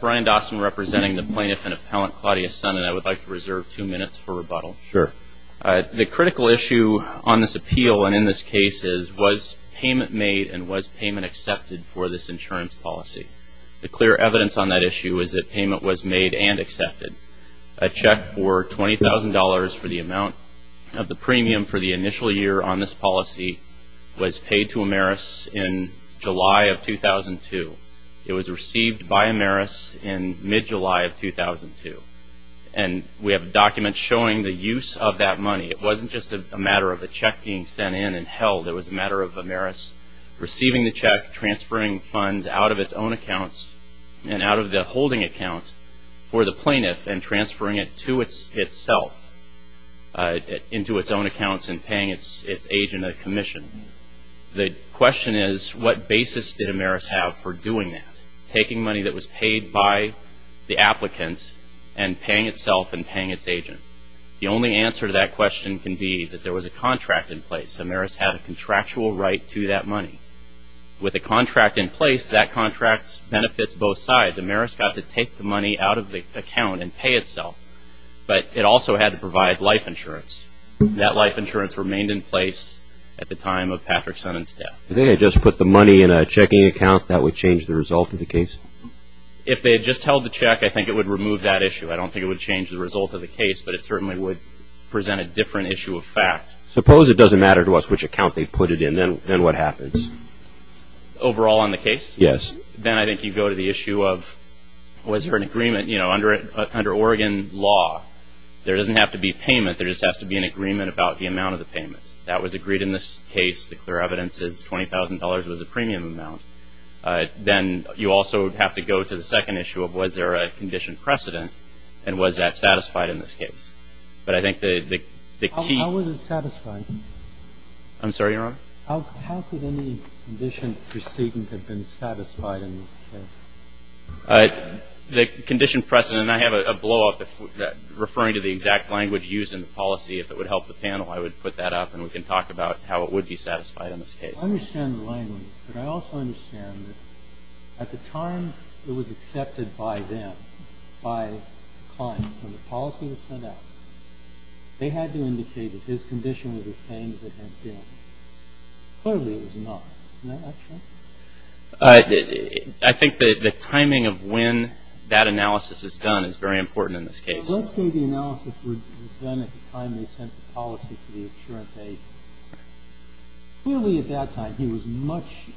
Brian Dawson representing the Plaintiff and Appellant Claudia Sonnen. I would like to reserve two minutes for rebuttal. Sure. The critical issue on this appeal and in this case is, was payment made and was payment accepted for this insurance policy? The clear evidence on that issue is that payment was made and accepted. A check for $20,000 for the amount of the premium for the initial year on this policy was paid to Amerus in July of 2002. It was received by Amerus in mid-July of 2002. And we have documents showing the use of that money. It wasn't just a matter of a check being sent in and held. It was a matter of Amerus receiving the check, transferring funds out of its own accounts and out of the holding account for the plaintiff and transferring it to itself, into its own accounts and paying its agent a commission. The question is, what basis did Amerus have for doing that, taking money that was paid by the applicant and paying itself and paying its agent? The only answer to that question can be that there was a contract in place. Amerus had a contractual right to that money. With a contract in place, that contract benefits both sides. Amerus got to take the money out of the account and pay itself. But it also had to provide life insurance. That life insurance remained in place at the time of Patrick's son's death. If they had just put the money in a checking account, that would change the result of the case? If they had just held the check, I think it would remove that issue. I don't think it would change the result of the case, but it certainly would present a different issue of fact. Suppose it doesn't matter to us which account they put it in. Then what happens? Overall on the case? Yes. Then I think you go to the issue of, was there an agreement? Under Oregon law, there doesn't have to be payment. There just has to be an agreement about the amount of the payment. That was agreed in this case. The clear evidence is $20,000 was a premium amount. Then you also have to go to the second issue of, was there a condition precedent, and was that satisfied in this case? But I think the key – How was it satisfied? I'm sorry, Your Honor? How could any condition precedent have been satisfied in this case? The condition precedent, and I have a blowup referring to the exact language used in the policy. If it would help the panel, I would put that up, and we can talk about how it would be satisfied in this case. I understand the language, but I also understand that at the time it was accepted by them, by Klein, when the policy was set up, they had to indicate that his condition was the same as it had been. Clearly it was not. Isn't that right? I think the timing of when that analysis is done is very important in this case. Let's say the analysis was done at the time they sent the policy for the insurance aid. Clearly at that time he was in much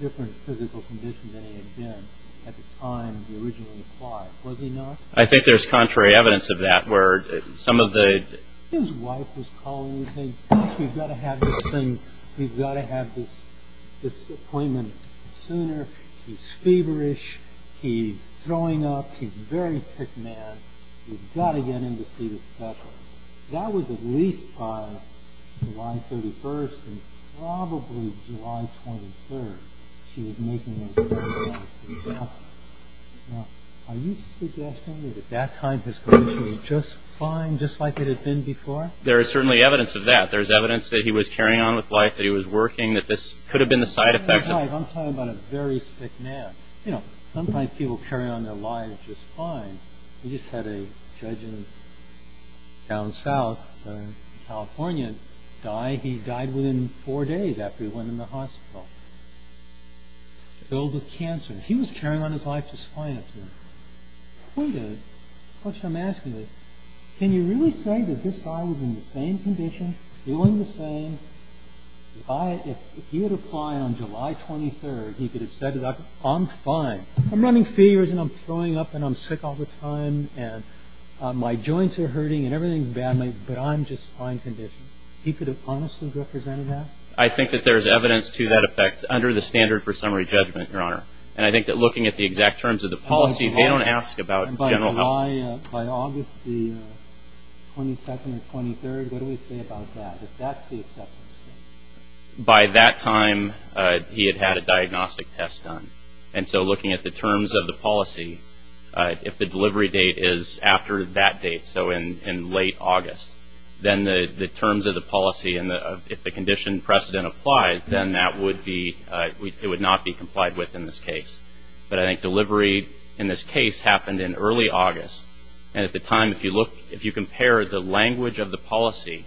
different physical condition than he had been at the time the originally applied, was he not? I think there's contrary evidence of that where some of the – His wife was calling and saying, gosh, we've got to have this thing, we've got to have this appointment sooner, he's feverish, he's throwing up, he's a very sick man, we've got to get him to see the specialist. That was at least by July 31st and probably July 23rd. She was making the announcement. Now, are you suggesting that at that time his condition was just fine, just like it had been before? There is certainly evidence of that. There's evidence that he was carrying on with life, that he was working, that this could have been the side effects. I'm talking about a very sick man. You know, sometimes people carry on their lives just fine. We just had a judge in down south, California, die. He died within four days after he went in the hospital. Filled with cancer. He was carrying on his life just fine up to that point. The question I'm asking is, can you really say that this guy was in the same condition, feeling the same? If he had applied on July 23rd, he could have said, I'm fine. I'm running feverish and I'm throwing up and I'm sick all the time and my joints are hurting and everything is badly, but I'm just fine condition. He could have honestly represented that? I think that there is evidence to that effect under the standard for summary judgment, Your Honor. And I think that looking at the exact terms of the policy, they don't ask about general health. By August 22nd or 23rd, what do we say about that, if that's the acceptance date? By that time, he had had a diagnostic test done. And so looking at the terms of the policy, if the delivery date is after that date, so in late August, then the terms of the policy and if the condition precedent applies, then that would be, it would not be complied with in this case. But I think delivery in this case happened in early August. And at the time, if you look, if you compare the language of the policy,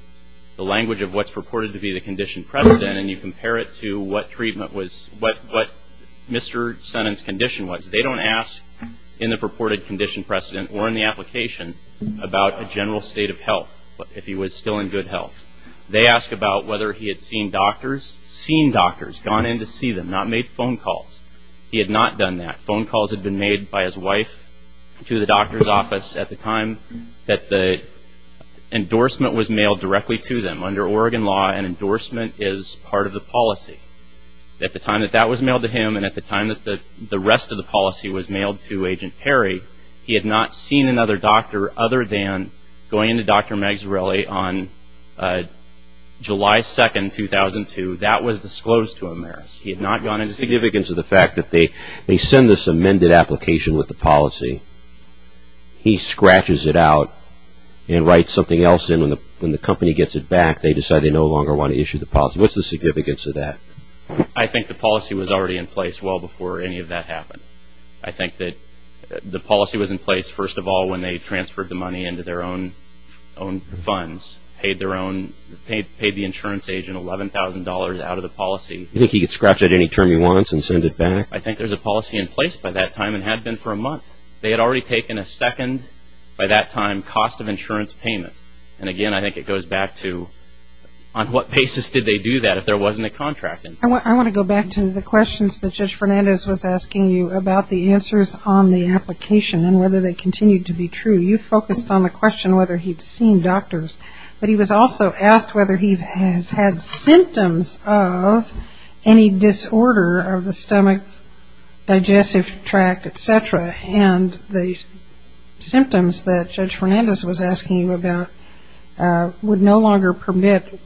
the language of what's purported to be the condition precedent, and you compare it to what treatment was, what Mr. Sonnen's condition was, they don't ask in the purported condition precedent or in the application about a general state of health, if he was still in good health. They ask about whether he had seen doctors. Seen doctors, gone in to see them, not made phone calls. He had not done that. Phone calls had been made by his wife to the doctor's office at the time that the endorsement was mailed directly to them. Under Oregon law, an endorsement is part of the policy. At the time that that was mailed to him and at the time that the rest of the policy was mailed to Agent Perry, he had not seen another doctor other than going in to Dr. Magsirelli on July 2, 2002. That was disclosed to him there. He had not gone in to see him. The significance of the fact that they send this amended application with the policy, he scratches it out and writes something else in. When the company gets it back, they decide they no longer want to issue the policy. What's the significance of that? I think the policy was already in place well before any of that happened. I think that the policy was in place, first of all, when they transferred the money into their own funds, paid the insurance agent $11,000 out of the policy. You think he could scratch out any term he wants and send it back? I think there's a policy in place by that time and had been for a month. They had already taken a second, by that time, cost of insurance payment. And, again, I think it goes back to on what basis did they do that if there wasn't a contract? I want to go back to the questions that Judge Fernandez was asking you about the answers on the application and whether they continue to be true. You focused on the question whether he'd seen doctors, but he was also asked whether he has had symptoms of any disorder of the stomach, digestive tract, et cetera. And the symptoms that Judge Fernandez was asking you about would no longer permit,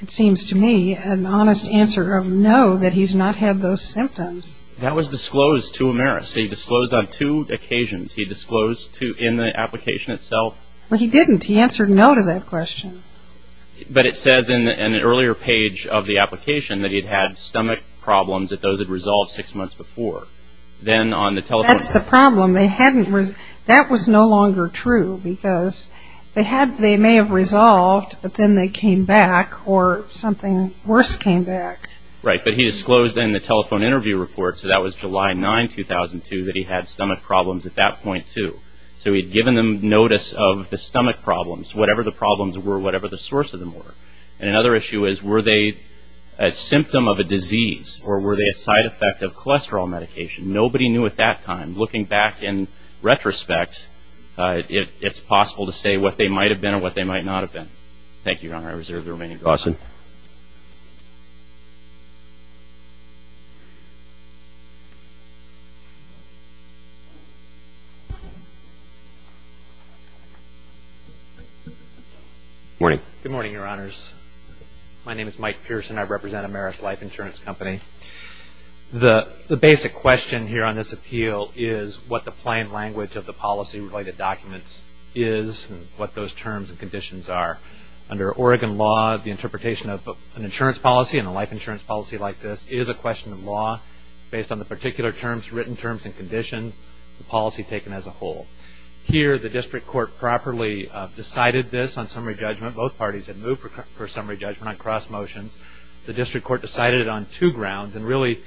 it seems to me, an honest answer of no, that he's not had those symptoms. That was disclosed to Ameris. He disclosed on two occasions. He disclosed in the application itself. Well, he didn't. He answered no to that question. But it says in an earlier page of the application that he'd had stomach problems that those had resolved six months before. That's the problem. That was no longer true because they may have resolved, but then they came back or something worse came back. Right. But he disclosed in the telephone interview report, so that was July 9, 2002, that he had stomach problems at that point, too. So he'd given them notice of the stomach problems, whatever the problems were, whatever the source of them were. And another issue is were they a symptom of a disease or were they a side effect of cholesterol medication? Nobody knew at that time. Looking back in retrospect, it's possible to say what they might have been or what they might not have been. Thank you, Your Honor. I reserve the remaining time. Awesome. Morning. Good morning, Your Honors. My name is Mike Pearson. I represent Ameris Life Insurance Company. The basic question here on this appeal is what the plain language of the policy-related documents is and what those terms and conditions are. Under Oregon law, the interpretation of an insurance policy and a life insurance policy like this is a question of law based on the particular terms, written terms and conditions, the policy taken as a whole. Here, the district court properly decided this on summary judgment. Both parties had moved for summary judgment on cross motions. The district court decided it on two grounds, and really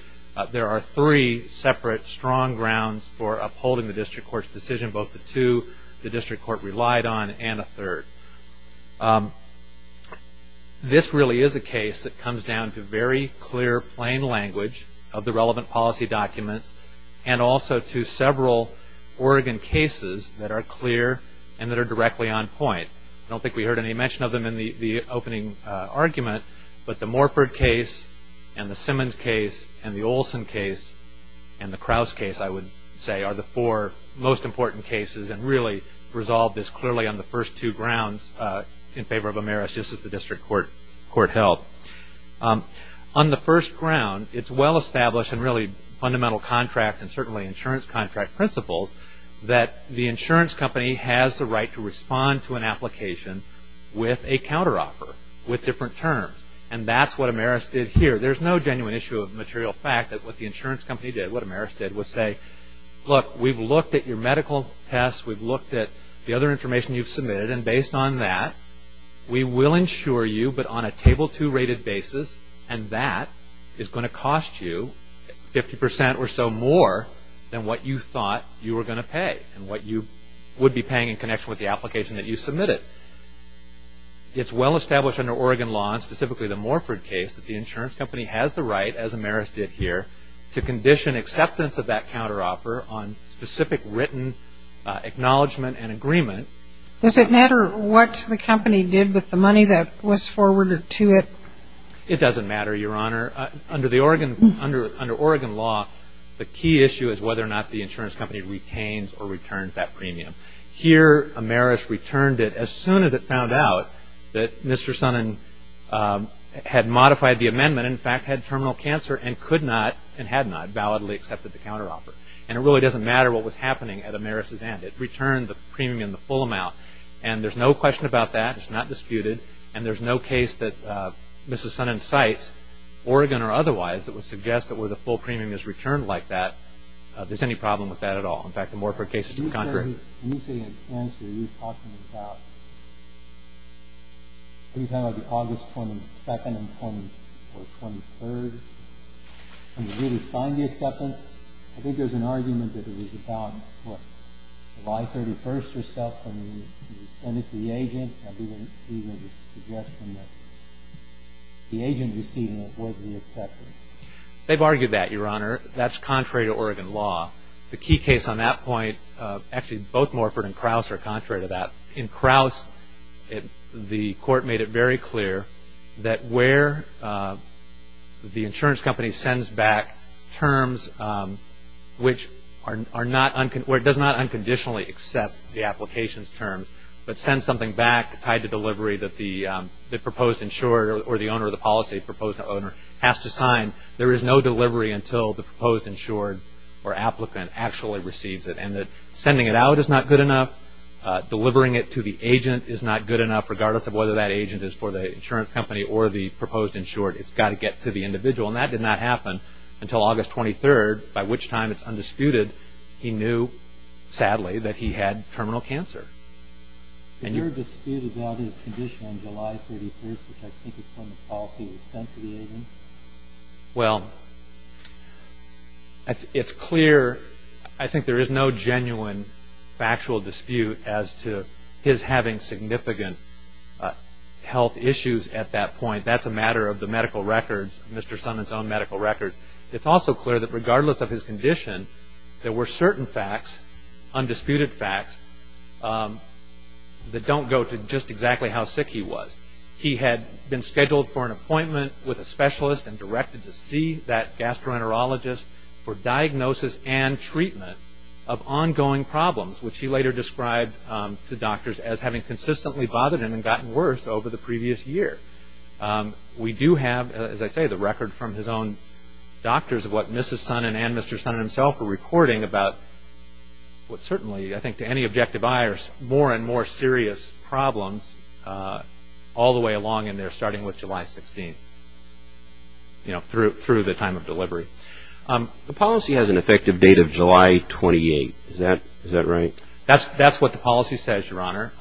there are three separate strong grounds for upholding the district court's decision, both the two the district court relied on and a third. This really is a case that comes down to very clear, plain language of the relevant policy documents and also to several Oregon cases that are clear and that are directly on point. I don't think we heard any mention of them in the opening argument, but the Morford case and the Simmons case and the Olson case and the Krause case, I would say, are the four most important cases and really resolved this clearly on the first two grounds in favor of Ameris, just as the district court held. On the first ground, it's well-established and really fundamental contract and certainly insurance contract principles that the insurance company has the right to respond to an application with a counteroffer, with different terms. And that's what Ameris did here. There's no genuine issue of material fact that what the insurance company did, what Ameris did was say, look, we've looked at your medical tests, we've looked at the other information you've submitted, and based on that we will insure you, but on a table two rated basis, and that is going to cost you 50% or so more than what you thought you were going to pay and what you would be paying in connection with the application that you submitted. It's well-established under Oregon law, and specifically the Morford case, that the insurance company has the right, as Ameris did here, to condition acceptance of that counteroffer on specific written acknowledgement and agreement. Does it matter what the company did with the money that was forwarded to it? It doesn't matter, Your Honor. Under Oregon law, the key issue is whether or not the insurance company retains or returns that premium. Here Ameris returned it as soon as it found out that Mr. Sonnen had modified the amendment, in fact had terminal cancer and could not and had not validly accepted the counteroffer. And it really doesn't matter what was happening at Ameris' end. It returned the premium, the full amount, and there's no question about that. It's not disputed. And there's no case that Mrs. Sonnen cites, Oregon or otherwise, that would suggest that where the full premium is returned like that, there's any problem with that at all. In fact, the Morford case is concrete. Let me say in advance what you're talking about. Are you talking about the August 22nd or 23rd, when you really signed the acceptance? I think there's an argument that it was about, what, July 31st or something, when you sent it to the agent, and we would even suggest from the agent receiving it was the acceptance. They've argued that, Your Honor. That's contrary to Oregon law. The key case on that point, actually both Morford and Krause are contrary to that. In Krause, the court made it very clear that where the insurance company sends back terms which does not unconditionally accept the application's terms, but sends something back tied to delivery that the proposed insurer or the owner of the policy, the proposed owner, has to sign, there is no delivery until the proposed insured or applicant actually receives it. Sending it out is not good enough. Delivering it to the agent is not good enough, regardless of whether that agent is for the insurance company or the proposed insured. It's got to get to the individual. That did not happen until August 23rd, by which time it's undisputed. He knew, sadly, that he had terminal cancer. Is there a dispute about his condition on July 31st, which I think is when the policy was sent to the agent? Well, it's clear. I think there is no genuine factual dispute as to his having significant health issues at that point. That's a matter of the medical records, Mr. Summon's own medical records. It's also clear that regardless of his condition, there were certain facts, undisputed facts, that don't go to just exactly how sick he was. He had been scheduled for an appointment with a specialist and directed to see that gastroenterologist for diagnosis and treatment of ongoing problems, which he later described to doctors as having consistently bothered him and gotten worse over the previous year. We do have, as I say, the record from his own doctors of what Mrs. Summon and Mr. Summon himself were reporting about what certainly, I think, to any objective eye are more and more serious problems all the way along and they're starting with July 16th, through the time of delivery. The policy has an effective date of July 28th. Is that right? That's what the policy says, Your Honor.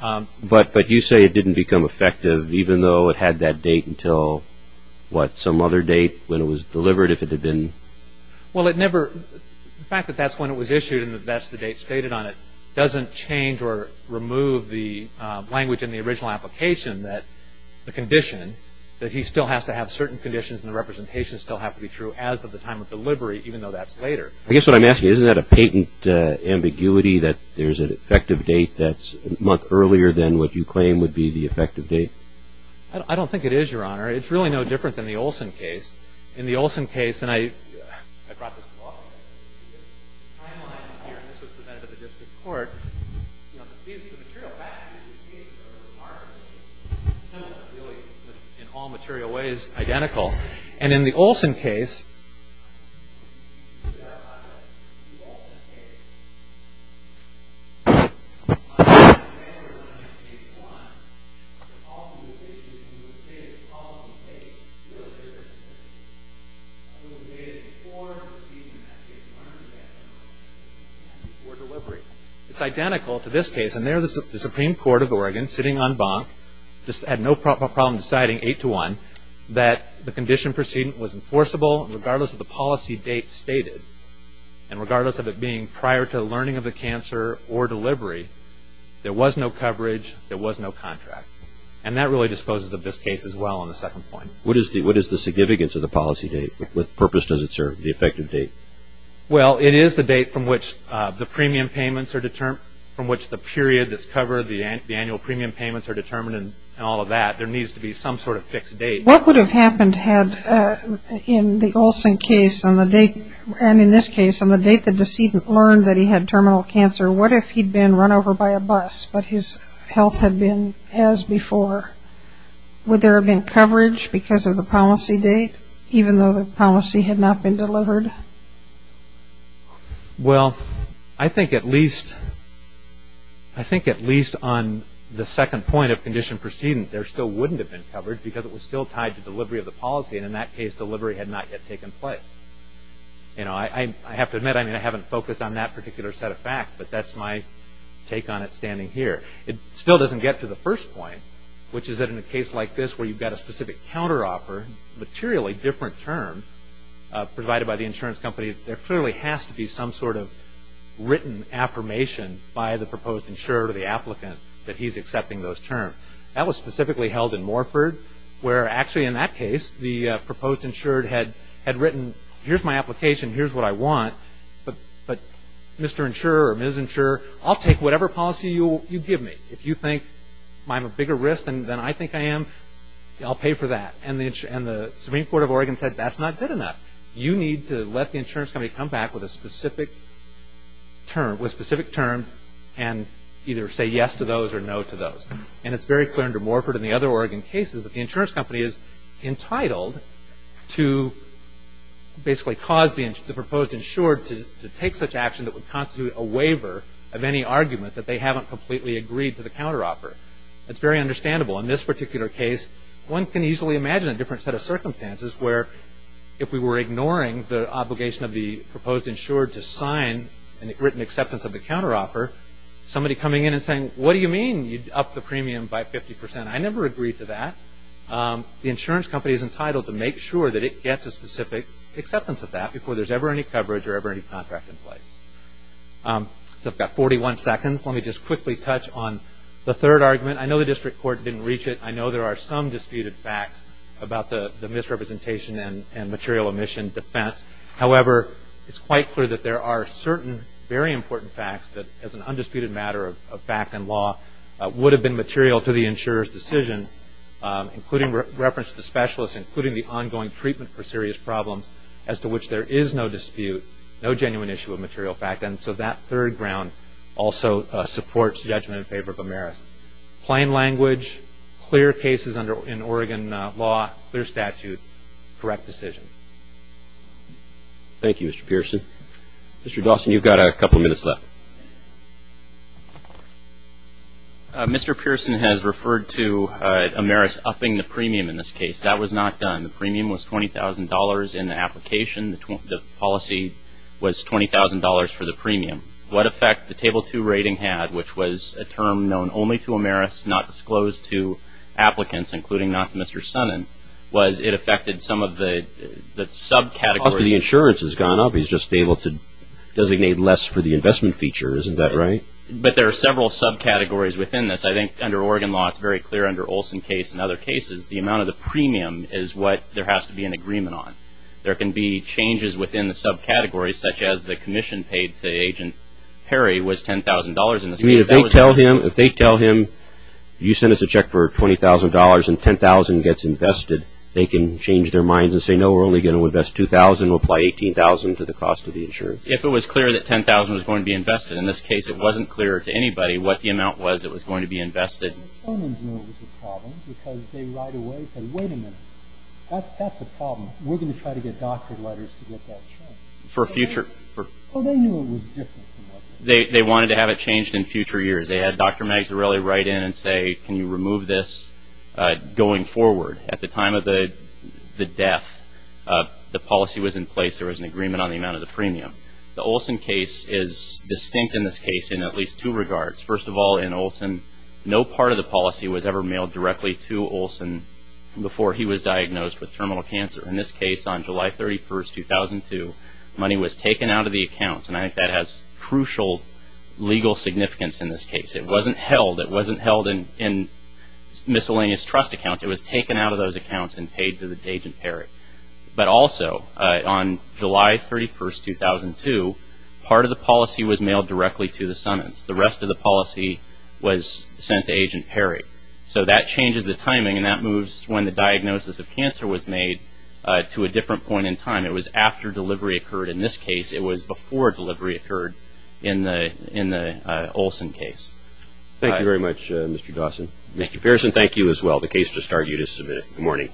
But you say it didn't become effective even though it had that date until, what, some other date when it was delivered, if it had been? Well, the fact that that's when it was issued and that that's the date stated on it doesn't change or remove the language in the original application that the condition, that he still has to have certain conditions and the representation still has to be true as of the time of delivery, even though that's later. I guess what I'm asking, isn't that a patent ambiguity that there's an effective date that's a month earlier than what you claim would be the effective date? I don't think it is, Your Honor. It's really no different than the Olson case. In the Olson case, and I brought this to law school, the timeline here, and this was presented at the district court, the material facts of these cases are remarkably similar, really, in all material ways, identical. And in the Olson case, It's identical to this case, and there the Supreme Court of Oregon, sitting on bunk, had no problem deciding, eight to one, that the condition precedent was enforceable regardless of the policy date stated, and regardless of it being prior to the learning of the cancer or delivery, there was no coverage, there was no contract. And that really disposes of this case as well on the second point. What is the significance of the policy date? What purpose does it serve, the effective date? Well, it is the date from which the premium payments are determined, from which the period that's covered, the annual premium payments are determined, and all of that, there needs to be some sort of fixed date. What would have happened had, in the Olson case, and in this case, on the date the decedent learned that he had terminal cancer, what if he'd been run over by a bus, but his health had been as before? Would there have been coverage because of the policy date, even though the policy had not been delivered? Well, I think at least on the second point of condition precedent, there still wouldn't have been coverage because it was still tied to delivery of the policy, and in that case, delivery had not yet taken place. I have to admit, I haven't focused on that particular set of facts, but that's my take on it standing here. It still doesn't get to the first point, which is that in a case like this where you've got a specific counteroffer, materially different term, provided by the insurance company, there clearly has to be some sort of written affirmation by the proposed insurer or the applicant that he's accepting those terms. That was specifically held in Morford, where actually in that case, the proposed insured had written, here's my application, here's what I want, but Mr. Insurer or Ms. Insurer, I'll take whatever policy you give me. If you think I'm a bigger risk than I think I am, I'll pay for that. And the Supreme Court of Oregon said, that's not good enough. You need to let the insurance company come back with specific terms and either say yes to those or no to those. And it's very clear under Morford and the other Oregon cases that the insurance company is entitled to basically cause the proposed insured to take such action that would constitute a waiver of any argument that they haven't completely agreed to the counteroffer. That's very understandable. In this particular case, one can easily imagine a different set of circumstances where if we were ignoring the obligation of the proposed insured to sign a written acceptance of the counteroffer, somebody coming in and saying, what do you mean? You'd up the premium by 50%. I never agreed to that. The insurance company is entitled to make sure that it gets a specific acceptance of that before there's ever any coverage or ever any contract in place. So I've got 41 seconds. Let me just quickly touch on the third argument. I know the district court didn't reach it. I know there are some disputed facts about the misrepresentation and material omission defense. However, it's quite clear that there are certain very important facts that, as an undisputed matter of fact and law, would have been material to the insurer's decision, including reference to the specialist, including the ongoing treatment for serious problems as to which there is no dispute, no genuine issue of material fact. And so that third ground also supports judgment in favor of Ameris. Plain language, clear cases in Oregon law, clear statute, correct decision. Thank you, Mr. Pearson. Mr. Dawson, you've got a couple minutes left. Mr. Pearson has referred to Ameris upping the premium in this case. That was not done. The premium was $20,000 in the application. The policy was $20,000 for the premium. What effect the Table 2 rating had, which was a term known only to Ameris, not disclosed to applicants, including not to Mr. Sonnen, was it affected some of the subcategories? The insurance has gone up. He's just been able to designate less for the investment feature. Isn't that right? But there are several subcategories within this. I think under Oregon law it's very clear under Olson's case and other cases the amount of the premium is what there has to be an agreement on. There can be changes within the subcategories, such as the commission paid to Agent Perry was $10,000 in this case. If they tell him you sent us a check for $20,000 and $10,000 gets invested, they can change their minds and say, no, we're only going to invest $2,000 and apply $18,000 to the cost of the insurance. If it was clear that $10,000 was going to be invested, in this case it wasn't clear to anybody what the amount was that was going to be invested. Mr. Sonnen knew it was a problem because they right away said, wait a minute, that's a problem. We're going to try to get doctor letters to get that checked. For future? Well, they knew it was different. They wanted to have it changed in future years. They had Dr. Magsorelli write in and say, can you remove this going forward? At the time of the death, the policy was in place. There was an agreement on the amount of the premium. The Olson case is distinct in this case in at least two regards. First of all, in Olson, no part of the policy was ever mailed directly to Olson before he was diagnosed with terminal cancer. In this case, on July 31, 2002, money was taken out of the accounts, and I think that has crucial legal significance in this case. It wasn't held. It wasn't held in miscellaneous trust accounts. It was taken out of those accounts and paid to Agent Perry. But also, on July 31, 2002, part of the policy was mailed directly to the Sonnens. The rest of the policy was sent to Agent Perry. So that changes the timing, and that moves when the diagnosis of cancer was made to a different point in time. It was after delivery occurred. In this case, it was before delivery occurred in the Olson case. Thank you very much, Mr. Dawson. Thank you, Pearson. Thank you as well. The case just started. You just submitted it. Good morning.